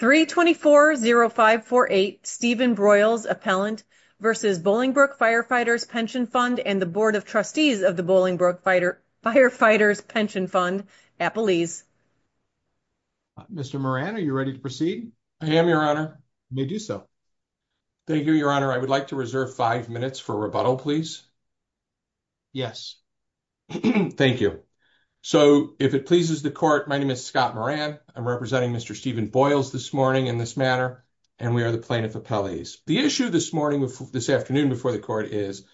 324-0548 Stephen Broyles, Appellant, v. Bolingbrook Firefighters' Pension Fund and the Board of Trustees of the Bolingbrook Firefighters' Pension Fund, Appelese. Mr. Moran, are you ready to proceed? I am, Your Honor. You may do so. Thank you, Your Honor. I would like to reserve five minutes for rebuttal, please. Yes. Thank you. So, if it pleases the Court, my name is Scott Moran. I'm representing Mr. Stephen Broyles this morning in this manner, and we are the plaintiff appellees. The issue this morning, this afternoon before the Court is,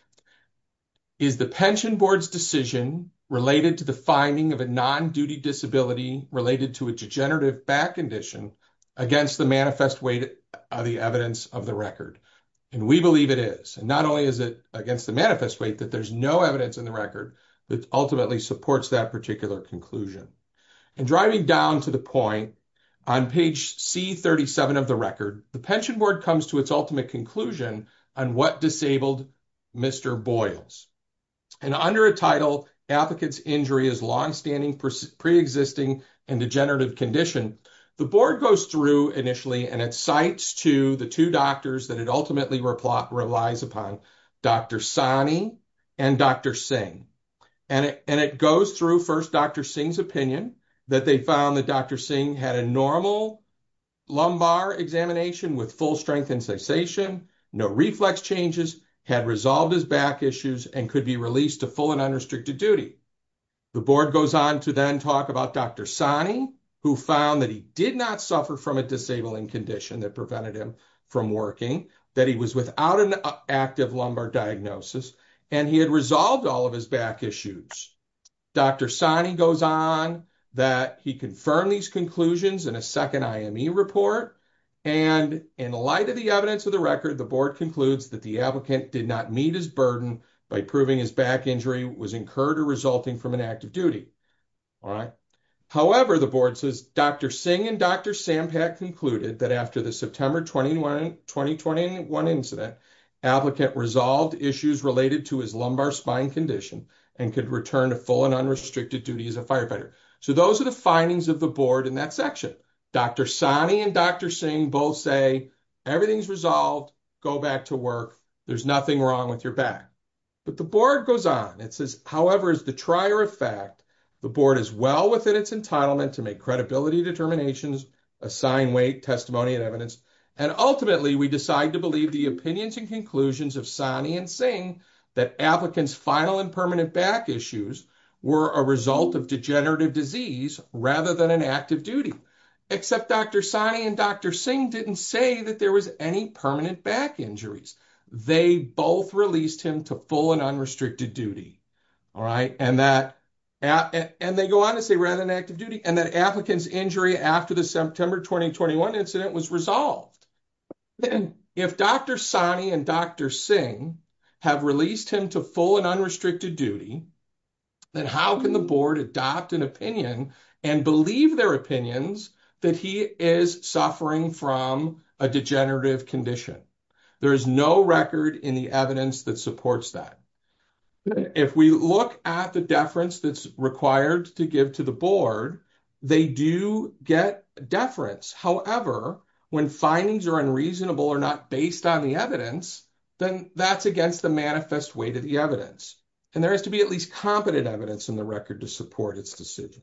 is the Pension Board's decision related to the finding of a non-duty disability related to a degenerative back condition against the manifest weight of the evidence of the record? And we believe it is. Not only is it against the manifest weight that there's no evidence in the record that ultimately supports that particular conclusion. And driving down to the point on page C-37 of the record, the Pension Board comes to its ultimate conclusion on what disabled Mr. Broyles. And under a title, Applicant's Injury is Longstanding Pre-existing and Degenerative Condition, the Board goes through initially and it cites to the two doctors that it ultimately relies upon, Dr. Sahni and Dr. Singh. And it goes through first Dr. Singh's opinion that they found that Dr. Singh had a normal lumbar examination with full strength and cessation, no reflex changes, had resolved his back issues and could be released to full and unrestricted duty. The Board goes on to then talk about Dr. Sahni, who found that he did not suffer from a disabling condition that prevented him from working, that he was without an active lumbar diagnosis, and he had resolved all of his back issues. Dr. Sahni goes on that he confirmed these conclusions in a second IME report. And in light of the evidence of the record, the Board concludes that the applicant did not meet his burden by proving his back injury was incurred or resulting from an active duty. However, the Board says Dr. Singh and Dr. Sampak concluded that after the September 2021 incident, applicant resolved issues related to his lumbar spine condition and could return to full and unrestricted duty as a firefighter. So those are the findings of the Board in that section. Dr. Sahni and Dr. Singh both say everything's resolved, go back to work, there's nothing wrong with your back. But the Board goes on, it says, however, as the trier of fact, the Board is well within its entitlement to make credibility determinations, assign weight, testimony and evidence. And ultimately, we decide to believe the opinions and conclusions of Sahni and Singh that applicants final and permanent back issues were a result of degenerative disease rather than an active duty. Except Dr. Sahni and Dr. Singh didn't say that there was any permanent back injuries. They both released him to full and unrestricted duty. All right, and that and they go on to say rather than active duty and that applicants injury after the September 2021 incident was resolved. Then if Dr. Sahni and Dr. Singh have released him to full and unrestricted duty, then how can the Board adopt an opinion and believe their opinions that he is suffering from a degenerative condition? There is no record in the evidence that supports that. If we look at the deference that's required to give to the Board, they do get deference. However, when findings are unreasonable or not based on the evidence, then that's against the manifest weight of the evidence. And there has to be at least competent evidence in the record to support its decision.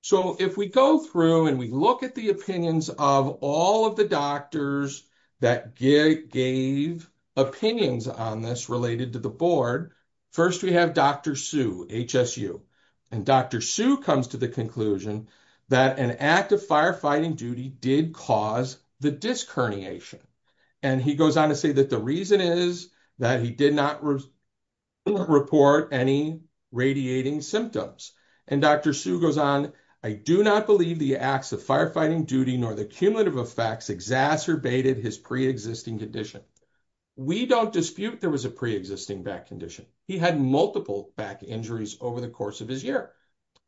So if we go through and we look at the opinions of all of the doctors that gave opinions on this related to the Board, first we have Dr. Hsu. And Dr. Hsu comes to the conclusion that an active firefighting duty did cause the disc herniation. And he goes on to say that the that he did not report any radiating symptoms. And Dr. Hsu goes on, I do not believe the acts of firefighting duty nor the cumulative effects exacerbated his pre-existing condition. We don't dispute there was a pre-existing back condition. He had multiple back injuries over the course of his year,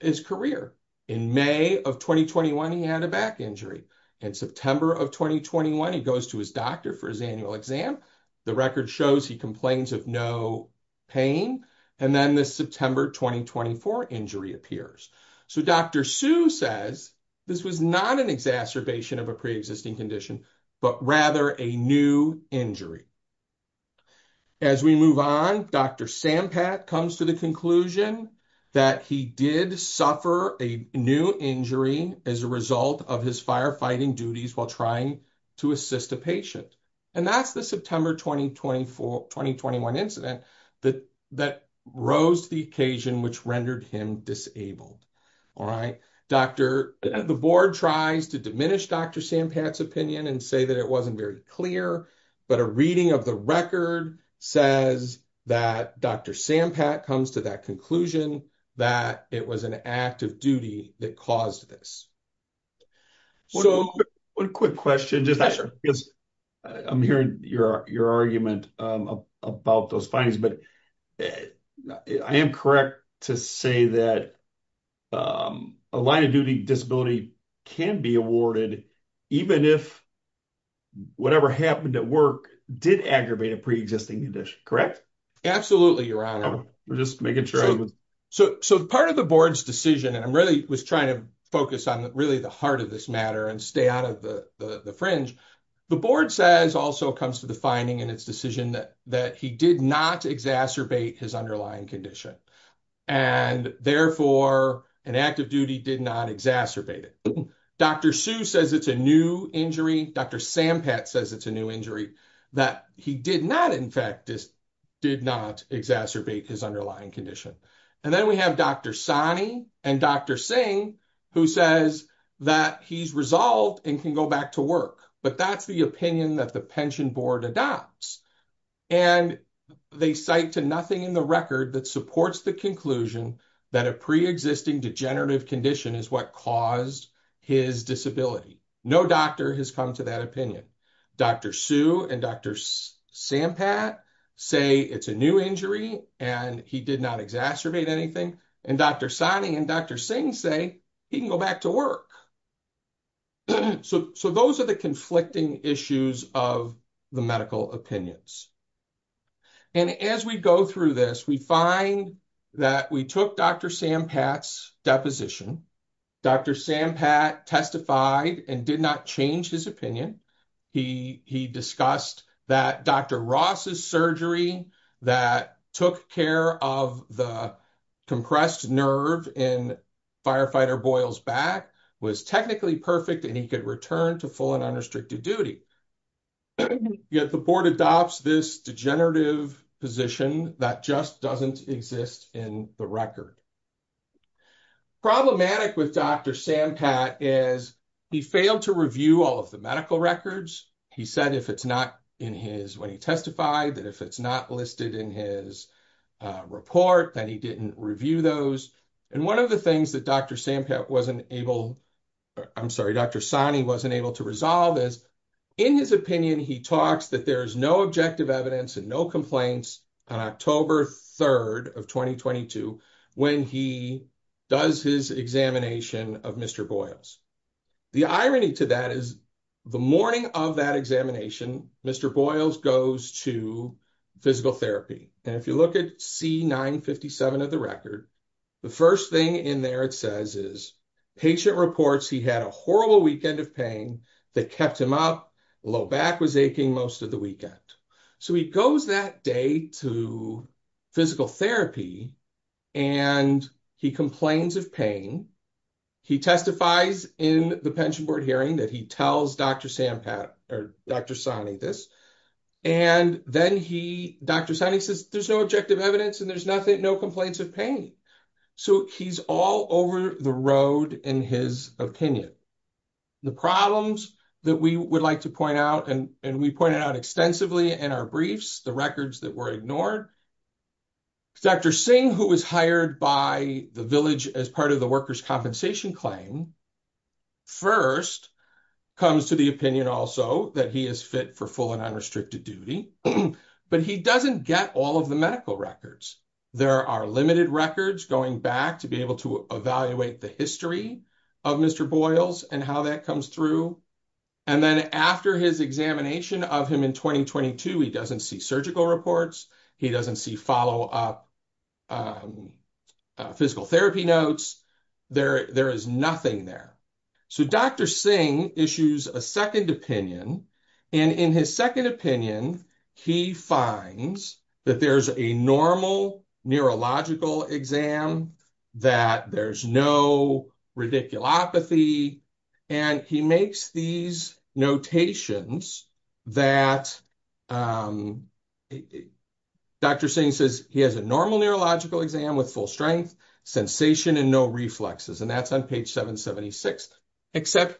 his career. In May of 2021, he had a back injury. In September of 2021, he goes to his doctor for his annual exam. The record shows he complains of no pain. And then this September 2024 injury appears. So Dr. Hsu says this was not an exacerbation of a pre-existing condition, but rather a new injury. As we move on, Dr. Sampat comes to the conclusion that he did a new injury as a result of his firefighting duties while trying to assist a patient. And that's the September 2024, 2021 incident that that rose to the occasion which rendered him disabled. All right, Dr. the Board tries to diminish Dr. Sampat's opinion and say that it wasn't very clear. But a reading of the record says that Dr. Sampat comes to that conclusion that it was an act of duty that caused this. One quick question. I'm hearing your argument about those findings, but I am correct to say that a line of duty disability can be awarded even if whatever happened at work did aggravate a pre-existing condition, correct? Absolutely, Your Honor. We're just making sure. So part of the Board's decision, and I'm really was trying to focus on really the heart of this matter and stay out of the fringe. The Board says also comes to the finding in its decision that he did not exacerbate his underlying condition. And therefore, an act of duty did not exacerbate it. Dr. Hsu says it's a new injury. Dr. Sampat says it's a new injury that he did not, in fact, did not exacerbate his underlying condition. And then we have Dr. Sani and Dr. Singh, who says that he's resolved and can go back to work. But that's the opinion that the Pension Board adopts. And they cite to nothing in the record that supports the conclusion that a pre-existing degenerative condition is what caused his disability. No doctor has come to that opinion. Dr. Hsu and Dr. Sampat say it's a new injury and he did not exacerbate anything. And Dr. Sani and Dr. Singh say he can go back to work. So those are the conflicting issues of the medical opinions. And as we go through this, we find that we took Dr. Sampat's deposition. Dr. Sampat testified and did not change his opinion. He discussed that Dr. Ross's surgery that took care of the compressed nerve in Firefighter Boyle's back was technically perfect and he could return to full and unrestricted duty. Yet the board adopts this degenerative position that just doesn't exist in the record. Problematic with Dr. Sampat is he failed to review all of the medical records. He said if it's not in his, when he testified, that if it's not listed in his report, that he didn't review those. And one of the things that Dr. Sampat wasn't able, I'm sorry, Dr. Sani wasn't able to resolve is in his opinion, he talks that there's no objective evidence and no complaints on October 3rd of 2022 when he does his examination of Mr. Boyle's. The irony to that is the morning of that examination, Mr. Boyle's goes to physical therapy. And if you look at C957 of the record, the first thing in there it says is patient reports, he had a horrible weekend of pain that kept him up. Low back was aching most of the weekend. So he goes that day to physical therapy and he complains of pain. He testifies in the pension board hearing that he tells Dr. Sampat or Dr. Sani this. And then he, Dr. Sani says there's no objective evidence and there's nothing, no complaints of pain. So he's all over the road in his opinion. The problems that we would like to point out and we pointed out extensively in our briefs, the records that were ignored. Dr. Singh, who was hired by the village as part of the worker's compensation claim, first comes to the opinion also that he is fit for full and unrestricted duty, but he doesn't get all of the medical records. There are limited records going back to be able to evaluate the history of Mr. Boyle's and how that comes through. And then after his examination of him in 2022, he doesn't see surgical reports. He doesn't see follow-up physical therapy notes. There is nothing there. So Dr. Singh issues a second opinion. And in his second opinion, he finds that there's a normal neurological exam, that there's no radiculopathy. And he makes these notations that Dr. Singh says he has a normal neurological exam with full strength, sensation, and no reflexes. And that's on page 776. Except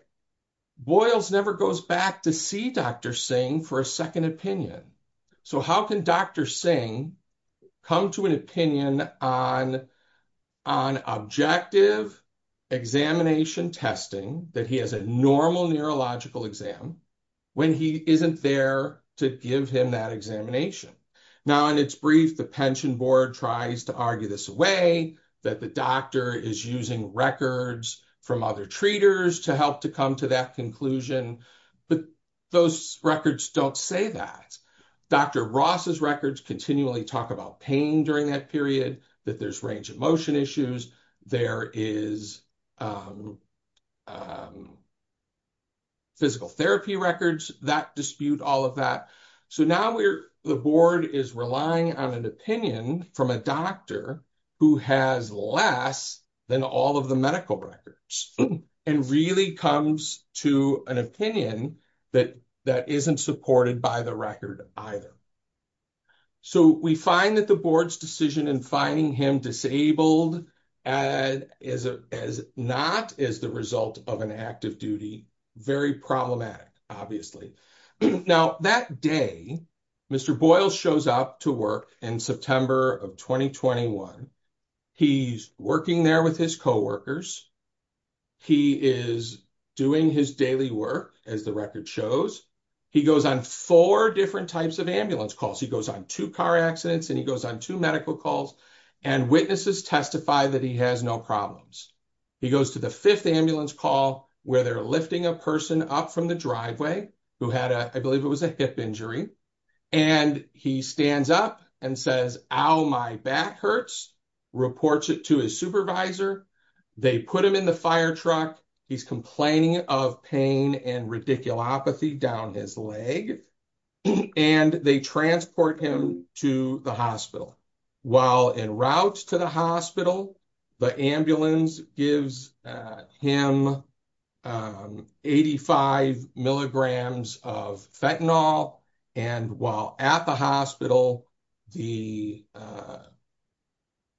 Boyle's never goes back to see Dr. Singh for a second opinion. So how can Dr. Singh come to an opinion on objective examination testing that he has a normal neurological exam when he isn't there to give him that examination? Now, in its brief, the pension board tries to argue this away, that the doctor is using records from other treaters to help to come to that conclusion. But those records don't say that. Dr. Ross's records continually talk about pain during that period, that there's range of motion issues. There is physical therapy records that dispute all of that. So now the board is relying on an opinion from a doctor who has less than all of the medical records, and really comes to an opinion that isn't supported by the record either. So we find that the board's decision in finding him disabled as not as the result of an active very problematic, obviously. Now that day, Mr. Boyle shows up to work in September of 2021. He's working there with his coworkers. He is doing his daily work as the record shows. He goes on four different types of ambulance calls. He goes on two car accidents and he goes on two medical calls and witnesses testify that he has no problems. He goes to the fifth ambulance call where they're lifting a person up from the driveway who had a, I believe it was a hip injury. And he stands up and says, ow, my back hurts, reports it to his supervisor. They put him in the fire truck. He's complaining of pain and radiculopathy down his leg. And they transport him to the hospital. While en route to the hospital, the ambulance gives him 85 milligrams of fentanyl. And while at the hospital, the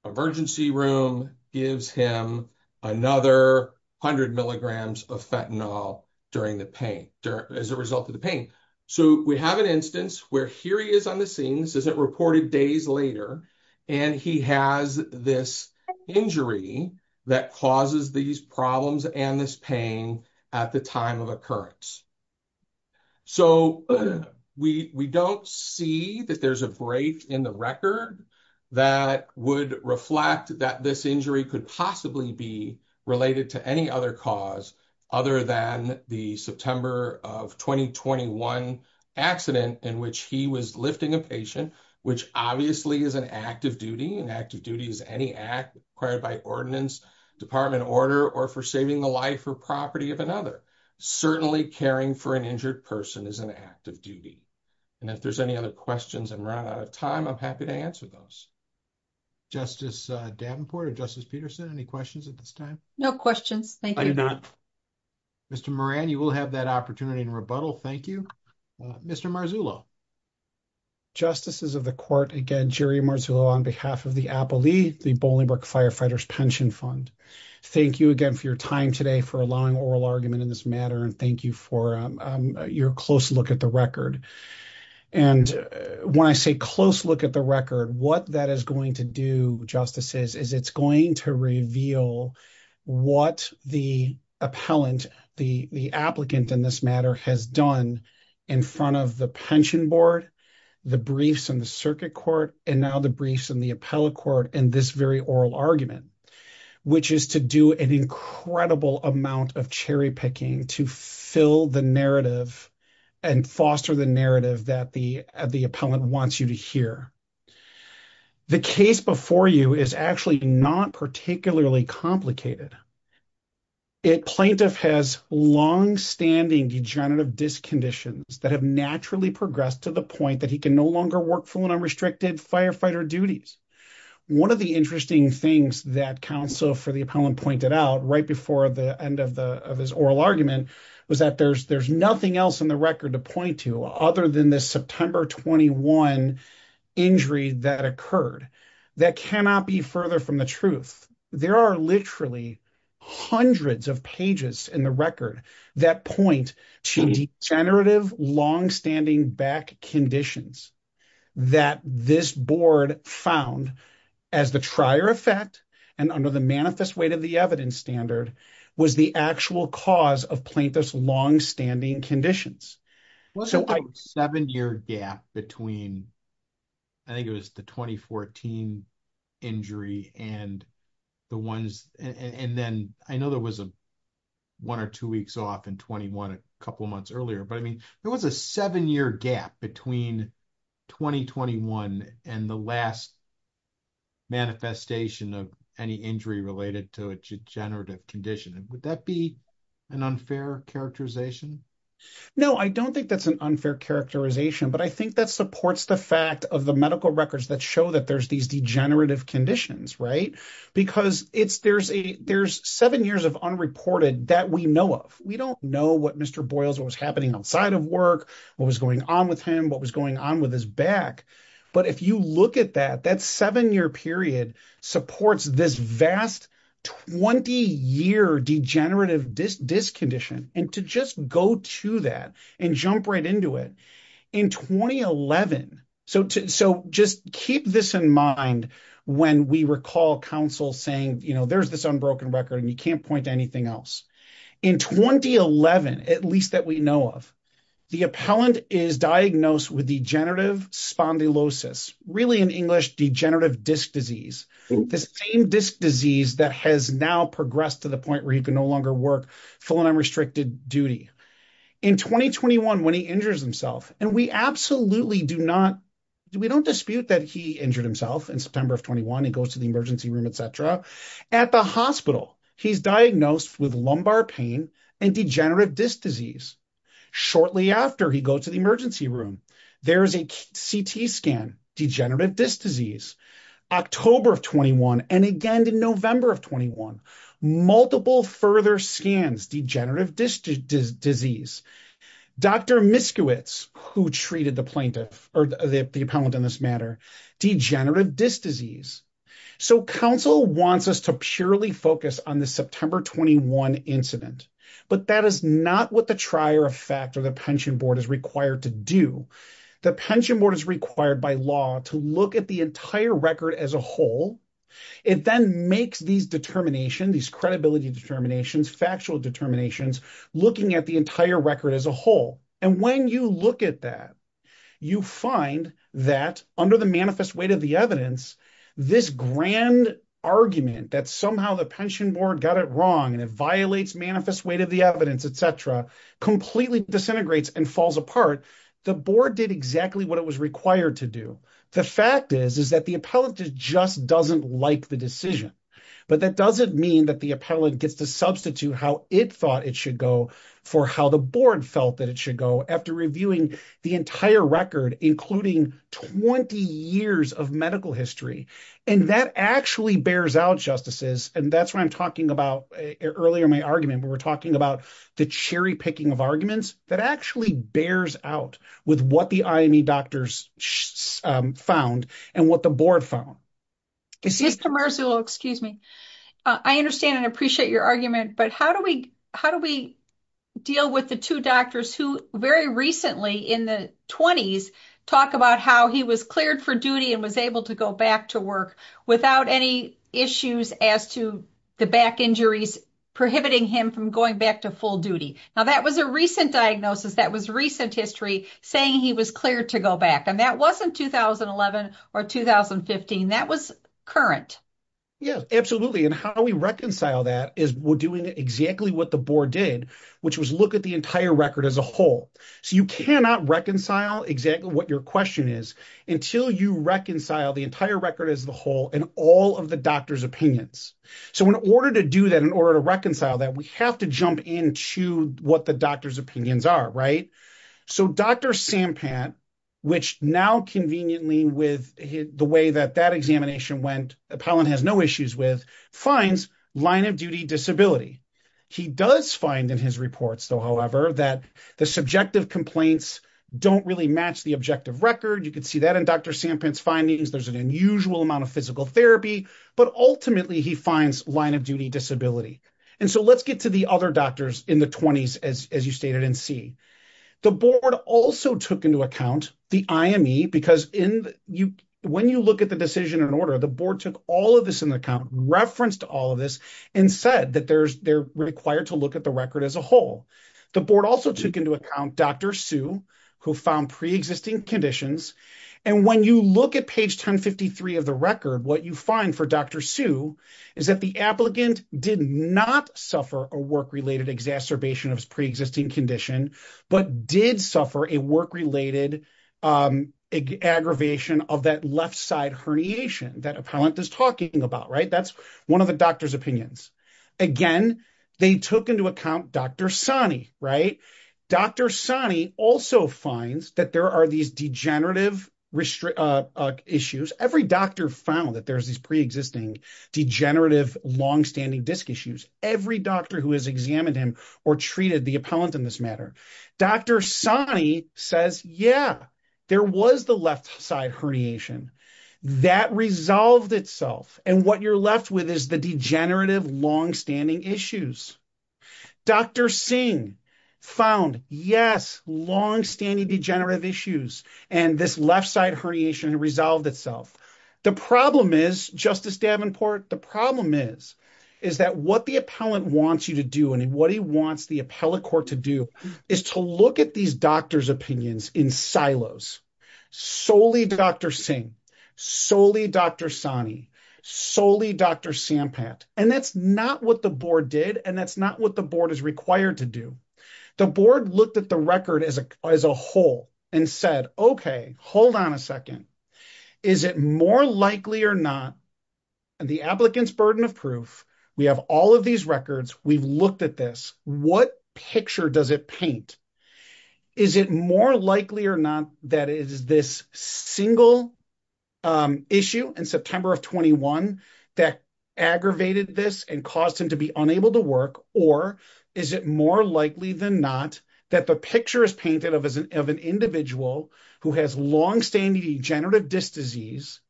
emergency room gives him another 100 milligrams of fentanyl during the pain, as a result of the pain. So we have an instance where here he is on the scene. This is it reported days later. And he has this injury that causes these problems and this pain at the time of occurrence. So we don't see that there's a break in the record that would reflect that this injury could possibly be related to any other cause other than the September of 2021 accident in which he was which obviously is an active duty. And active duty is any act required by ordinance, department order, or for saving the life or property of another. Certainly caring for an injured person is an active duty. And if there's any other questions, I'm running out of time. I'm happy to answer those. Justice Davenport or Justice Peterson, any questions at this time? No questions. Thank you. Mr. Moran, you will have that opportunity to rebuttal. Thank you, Mr. Marzullo. Justices of the court, again, Jerry Marzullo on behalf of the APALE, the Bolingbroke Firefighters Pension Fund. Thank you again for your time today, for allowing oral argument in this matter, and thank you for your close look at the record. And when I say close look at the record, what that is going to do, justices, is it's going to reveal what the appellant, the applicant in this matter, has done in front of the pension board, the briefs in the circuit court, and now the briefs in the appellate court in this very oral argument, which is to do an incredible amount of cherry picking to fill the narrative and foster the narrative that the appellant wants you to hear. The case before you is actually not particularly complicated. A plaintiff has longstanding degenerative disconditions that have naturally progressed to the point that he can no longer work full and unrestricted firefighter duties. One of the interesting things that counsel for the appellant pointed out right before the end of his oral argument was that there's nothing else in the record to point to other than this September 21 injury that occurred. That cannot be further from the truth. There are literally hundreds of pages in the record that point to degenerative longstanding back conditions that this board found as the trier effect and under the manifest weight of the evidence standard was the actual cause of plaintiff's longstanding conditions. So a seven-year gap between, I think it was the 2014 injury and the ones, and then I know there was a one or two weeks off in 21 a couple months earlier, but I mean, there was a seven-year gap between 2021 and the last manifestation of any injury related to a degenerative condition. Would that be an unfair characterization? No, I don't think that's an unfair characterization, but I think that supports the fact of the medical records that show that there's these degenerative conditions, right? Because there's seven years of unreported that we know of. We don't know what Mr. Boyles, what was happening outside of work, what was going on with him, what was going on with his back. But if you look at that, that seven-year period supports this vast 20-year degenerative disc condition. And to just go to that and jump right into it, in 2011, so just keep this in mind when we recall counsel saying, there's this unbroken record and you can't point to anything else. In 2011, at least that we know of, the appellant is diagnosed with degenerative spondylosis, really in English, degenerative disc disease. The same disc disease that has now progressed to the point where he can no longer work full and unrestricted duty. In 2021, when he injures himself, and we absolutely do not, we don't dispute that he injured himself in September of 21, he goes to the emergency room, et cetera. At the hospital, he's diagnosed with lumbar pain and degenerative disc disease. Shortly after he goes to the emergency room, there's a CT scan, degenerative disc disease. October of 21, and again in November of 21, multiple further scans, degenerative disc disease. Dr. Miskiewicz, who treated the plaintiff or the appellant in this matter, degenerative disc disease. So counsel wants us to purely focus on the September 21 incident, but that is not what the trier of fact or the pension board is required to do. The pension board is required by law to look at the entire record as a whole. It then makes these determination, these credibility determinations, factual determinations, looking at the entire record as a whole. And when you look at that, you find that under the manifest weight of the evidence, this grand argument that somehow the pension board got it wrong, and it violates manifest weight of the evidence, et cetera, completely disintegrates and falls apart. The board did exactly what it was required to do. The fact is, is that the appellant just doesn't like the decision, but that doesn't mean that the appellant gets to substitute how it thought it should go for how the board felt that it should go after reviewing the entire record, including 20 years of medical history. And that actually bears out justices. And that's why I'm talking about earlier in my argument, we were talking about the cherry picking of arguments that actually bears out with what the IME doctors found and what the board found. Mr. Marzullo, excuse me. I understand and appreciate your argument, but how do we deal with the two doctors who very recently in the 20s talk about how he was cleared for duty and was able to go back to work without any issues as to the back injuries prohibiting him from going back to full duty. Now that was a recent diagnosis. That was recent history saying he was cleared to go back and that wasn't 2011 or 2015. That was current. Yeah, absolutely. And how we reconcile that is we're doing exactly what the board did, which was look at the entire record as a whole. So you cannot reconcile exactly what your question is until you reconcile the entire record as the whole and all of the doctor's opinions. So in order to do that, in order to reconcile that, we have to jump into what the doctor's opinions are, right? So Dr. Sampant, which now conveniently with the way that that examination went, Apollon has no issues with, finds line of duty disability. He does find in his reports though, however, that the subjective complaints don't really match the objective record. You can see that in Dr. Sampant's findings, there's an unusual amount of physical therapy, but ultimately he finds line of duty disability. So let's get to the other doctors in the 20s as you stated in C. The board also took into account the IME because when you look at the decision and order, the board took all of this in account, referenced all of this and said that they're required to look at the record as a whole. The board also took into account Dr. Sue who found pre-existing conditions. And when you look at page 1053 of the record, what you find for Dr. Sue is that the applicant did not suffer a work-related exacerbation of his pre-existing condition, but did suffer a work-related aggravation of that left side herniation that Apollon is talking about, right? That's one of the doctor's opinions. Again, they took into account Dr. Sani, right? Dr. Sani also finds that there are these degenerative issues. Every doctor found that there's these pre-existing degenerative longstanding disc issues. Every doctor who has examined him or treated the appellant in this matter. Dr. Sani says, yeah, there was the left side herniation that resolved itself. And what you're left with is the degenerative longstanding issues. Dr. Singh found, yes, longstanding degenerative issues and this left side herniation resolved itself. The problem is, Justice Davenport, the problem is, is that what the appellant wants you to do and what he wants the appellate court to do is to look at these doctor's opinions in silos. Solely Dr. Singh, solely Dr. Sani, solely Dr. Sampat. And that's not what the board did. And that's not what the board is required to do. The board looked at the record as a whole and said, okay, hold on a second. Is it more likely or not? And the applicant's burden of proof, we have all of these records. We've looked at this. What picture does it paint? Is it more likely or not that it is this single issue in September of 21 that aggravated this and caused him to be unable to work? Or is it more likely than not that the picture is painted of an individual who has longstanding degenerative disc disease,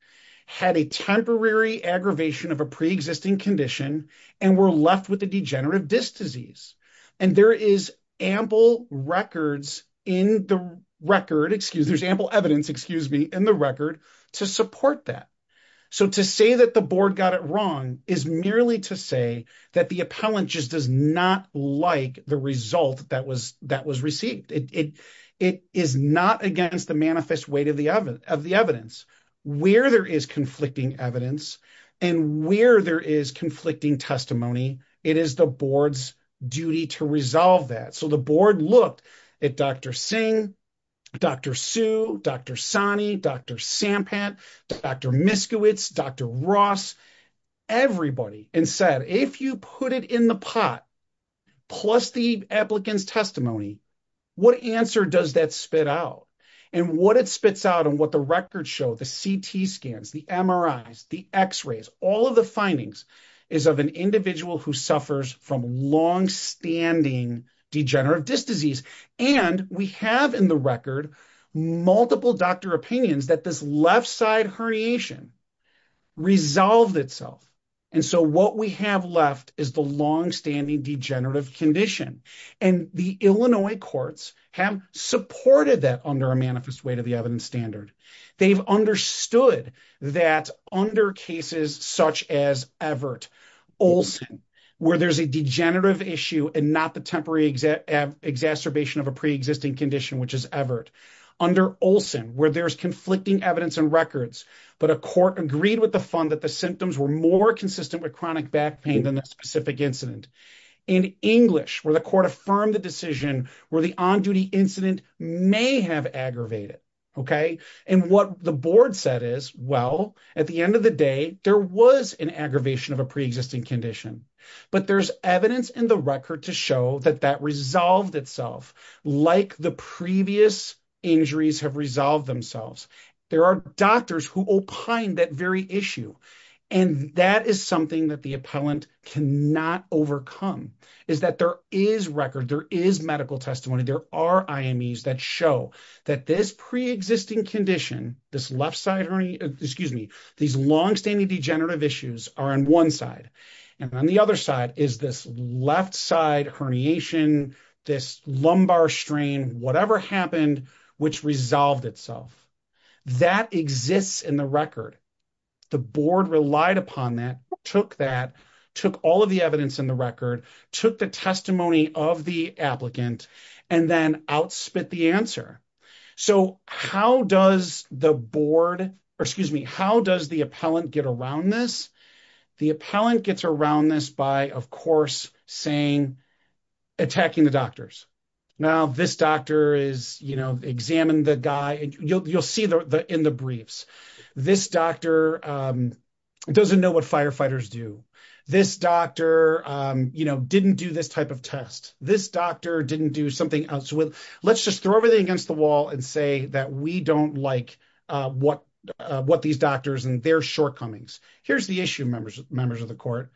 had a temporary aggravation of a preexisting condition, and were left with a degenerative disc disease. And there is ample records in the record, excuse me, there's ample evidence, excuse me, in the record to support that. So to say that the board got it wrong is merely to say that the appellant just does not like the result that was received. It is not against the manifest weight of the evidence. Where there is conflicting evidence and where there is conflicting testimony, it is the board's duty to resolve that. So the board looked at Dr. Singh, Dr. Sue, Dr. Sani, Dr. Sampant, Dr. Miskiewicz, Dr. Ross, everybody and said, if you put it in the pot, plus the applicant's testimony, what answer does that spit out? And what it spits out and what the records show, the CT scans, the MRIs, the x-rays, all of the findings is of an individual who suffers from longstanding degenerative disc disease. And we have in the record multiple doctor opinions that this left side herniation resolved itself. And so what we have left is the longstanding degenerative condition. And the Illinois courts have supported that under a manifest weight of the evidence standard. They've understood that under cases such as Everett, Olson, where there's a degenerative issue and not the temporary exacerbation of a preexisting condition, which is Everett. Under Olson, where there's conflicting evidence and records, but a court agreed with the fund that the symptoms were more consistent with chronic back pain than the specific incident. In English, where the court affirmed the decision where the on-duty incident may have aggravated. And what the board said is, well, at the end of the day, there was an aggravation of a preexisting condition. But there's evidence in the record to show that that resolved itself like the previous injuries have resolved themselves. There are doctors who opine that very issue. And that is something that the appellant cannot overcome is that there is record, there is medical testimony. There are IMEs that show that this preexisting condition, this left side, excuse me, these longstanding degenerative issues are on one side and on the other side is this left side herniation, this lumbar strain, whatever happened, which resolved itself. That exists in the record. The board relied upon that, took that, took all of the evidence in the record, took the testimony of the applicant and then outspit the answer. So how does the board, or excuse me, how does the appellant get around this? The appellant gets around this by, of course, saying, attacking the doctors. Now, this doctor is, you know, examined the guy. You'll see in the briefs, this doctor doesn't know what firefighters do. This doctor, you know, didn't do this type of test. This doctor didn't do something else. Let's just throw everything against the wall and say that we don't like what these doctors and their shortcomings. Here's the issue members of the court.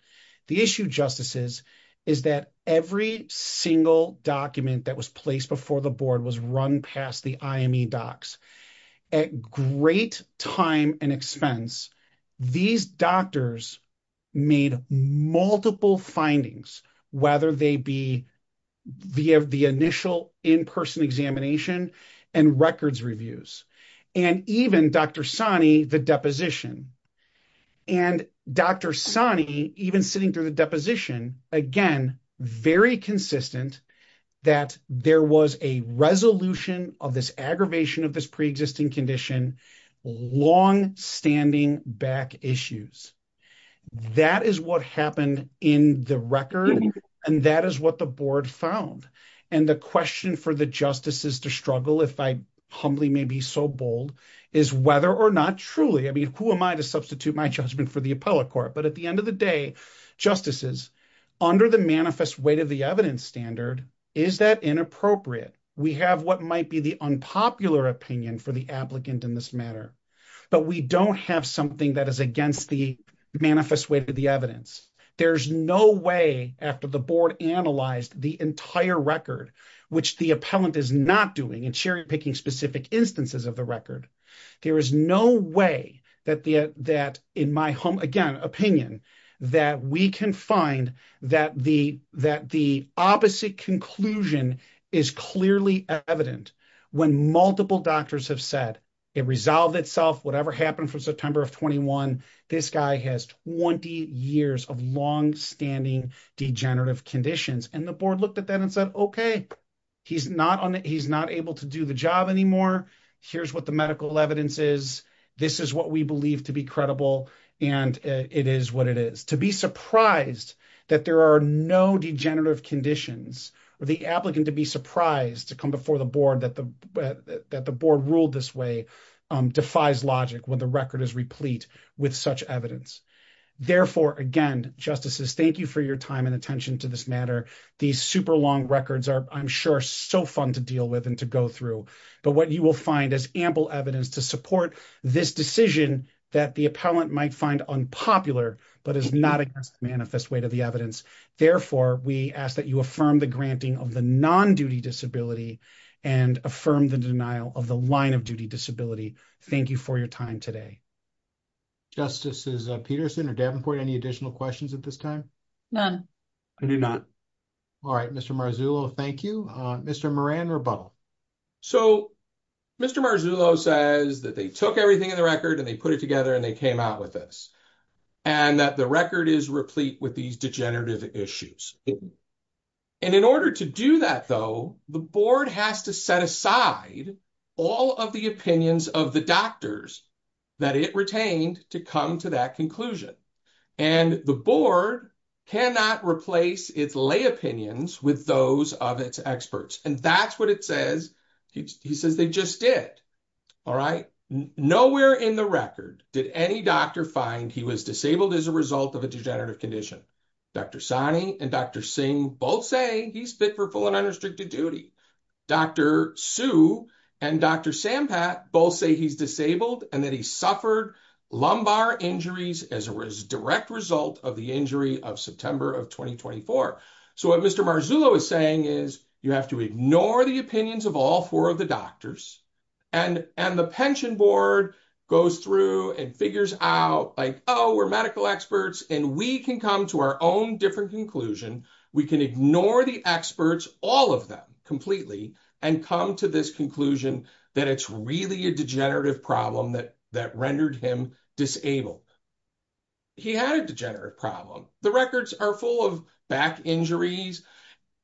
The issue justices is that every single document that was placed before the board was run past the IME docs. At great time and expense, these doctors made multiple findings, whether they be the initial in-person examination and records reviews, and even Dr. Sani, the deposition. And Dr. Sani, even sitting through the deposition, again, very consistent that there was a resolution of this aggravation of this condition, long-standing back issues. That is what happened in the record, and that is what the board found. And the question for the justices to struggle, if I humbly may be so bold, is whether or not truly, I mean, who am I to substitute my judgment for the appellate court? But at the end of the day, justices, under the manifest weight of the evidence standard, is that inappropriate? We have what might be the unpopular opinion for the applicant in this matter, but we don't have something that is against the manifest weight of the evidence. There's no way, after the board analyzed the entire record, which the appellant is not doing in cherry-picking specific instances of the record, there is no way that in my opinion, that we can find that the opposite conclusion is clearly evident when multiple doctors have said, it resolved itself, whatever happened from September of 21, this guy has 20 years of long-standing degenerative conditions. And the board looked at that and said, okay, he's not able to do the job anymore. Here's what the medical evidence is. This is what we believe to be credible and it is what it is. To be surprised that there are no degenerative conditions or the applicant to be surprised to come before the board that the board ruled this way, defies logic when the record is replete with such evidence. Therefore, again, justices, thank you for your time and attention to this matter. These super long records are, I'm sure, so fun to deal with and to go through, but what you will find is ample evidence to support this decision that the appellant might find unpopular, but is not a manifest way to the evidence. Therefore, we ask that you affirm the granting of the non-duty disability and affirm the denial of the line of duty disability. Thank you for your time today. Justices Peterson or Davenport, any additional questions at this time? None. I do not. All right, Mr. Marzullo, thank you. Mr. Moran, rebuttal. So, Mr. Marzullo says that they took everything in the record and they put it together and they came out with this and that the record is replete with these degenerative issues. And in order to do that, though, the board has to set aside all of the opinions of the doctors that it retained to come to that conclusion. And the board cannot replace its lay opinions with those of its experts. And that's what it says. He says they just did. All right. Nowhere in the record did any doctor find he was disabled as a result of a degenerative condition. Dr. Sani and Dr. Singh both say he's fit for full and unrestricted duty. Dr. Su and Dr. Sampat both say he's disabled and that he suffered lumbar injuries as a direct result of the injury of September of 2024. So what Mr. Marzullo is saying is you have to ignore the opinions of all four of the doctors and the pension board goes through and figures out like, oh, we're medical experts and we can come to our own different conclusion. We can ignore the experts, all of them completely, and come to this conclusion that it's really a degenerative problem that rendered him disabled. He had a degenerative problem. The records are full of back injuries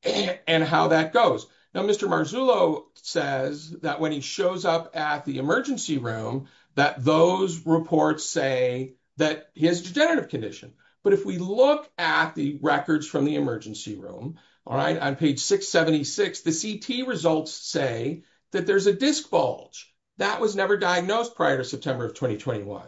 and how that goes. Now, Mr. Marzullo says that when he shows up at the emergency room, that those reports say that he has degenerative condition. But if we look at the records from the emergency room, all right, on page 676, the CT results say that there's a disc bulge. That was never diagnosed prior to September of 2021.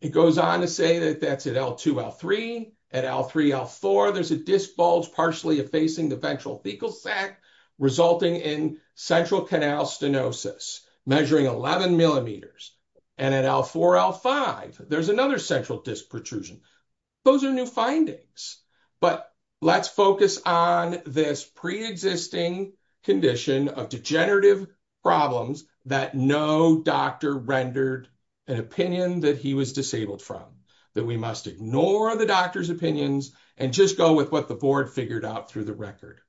It goes on to say that that's at L2, L3. At L3, L4, there's a disc bulge partially effacing the ventral fecal sac, resulting in central canal stenosis, measuring 11 millimeters. And at L4, L5, there's another central disc protrusion. Those are new findings. But let's focus on this preexisting condition of degenerative problems that no doctor rendered an opinion that he was disabled from, that we must ignore the doctor's opinions and just go with what the board figured out through the record.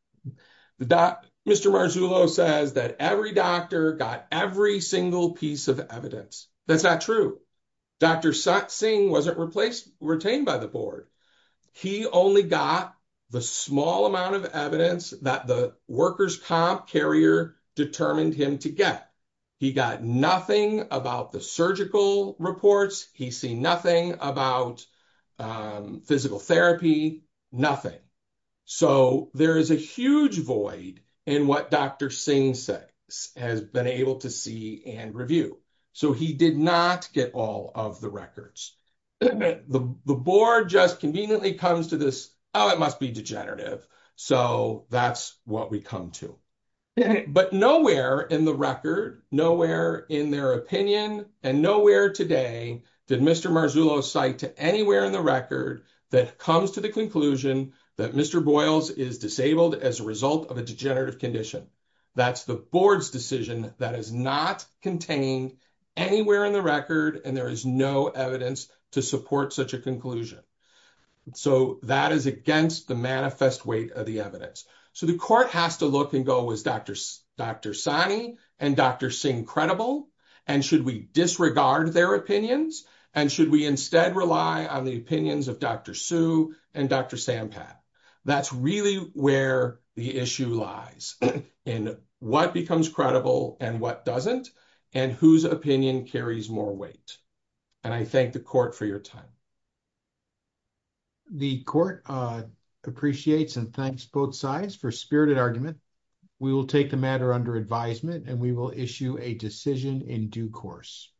Mr. Marzullo says that every doctor got every single piece of evidence. That's not true. Dr. Satsingh wasn't retained by the board. He only got the small amount of evidence that the workers' comp carrier determined him to get. He got nothing about the surgical reports. He's seen nothing about physical therapy, nothing. So there is a huge void in what Dr. Satsingh has been able to see and review. So he did not get all of the records. The board just conveniently comes to this, it must be degenerative. So that's what we come to. But nowhere in the record, nowhere in their opinion, and nowhere today did Mr. Marzullo cite to anywhere in the record that comes to the conclusion that Mr. Boyles is disabled as a result of a degenerative condition. That's the board's decision that is not contained anywhere in the record, and there is no evidence to support such conclusion. So that is against the manifest weight of the evidence. So the court has to look and go, is Dr. Sani and Dr. Singh credible? And should we disregard their opinions? And should we instead rely on the opinions of Dr. Suh and Dr. Sampath? That's really where the issue lies in what becomes credible and what doesn't, and whose opinion carries more weight. And I thank the court for your time. The court appreciates and thanks both sides for spirited argument. We will take the matter under advisement and we will issue a decision in due course.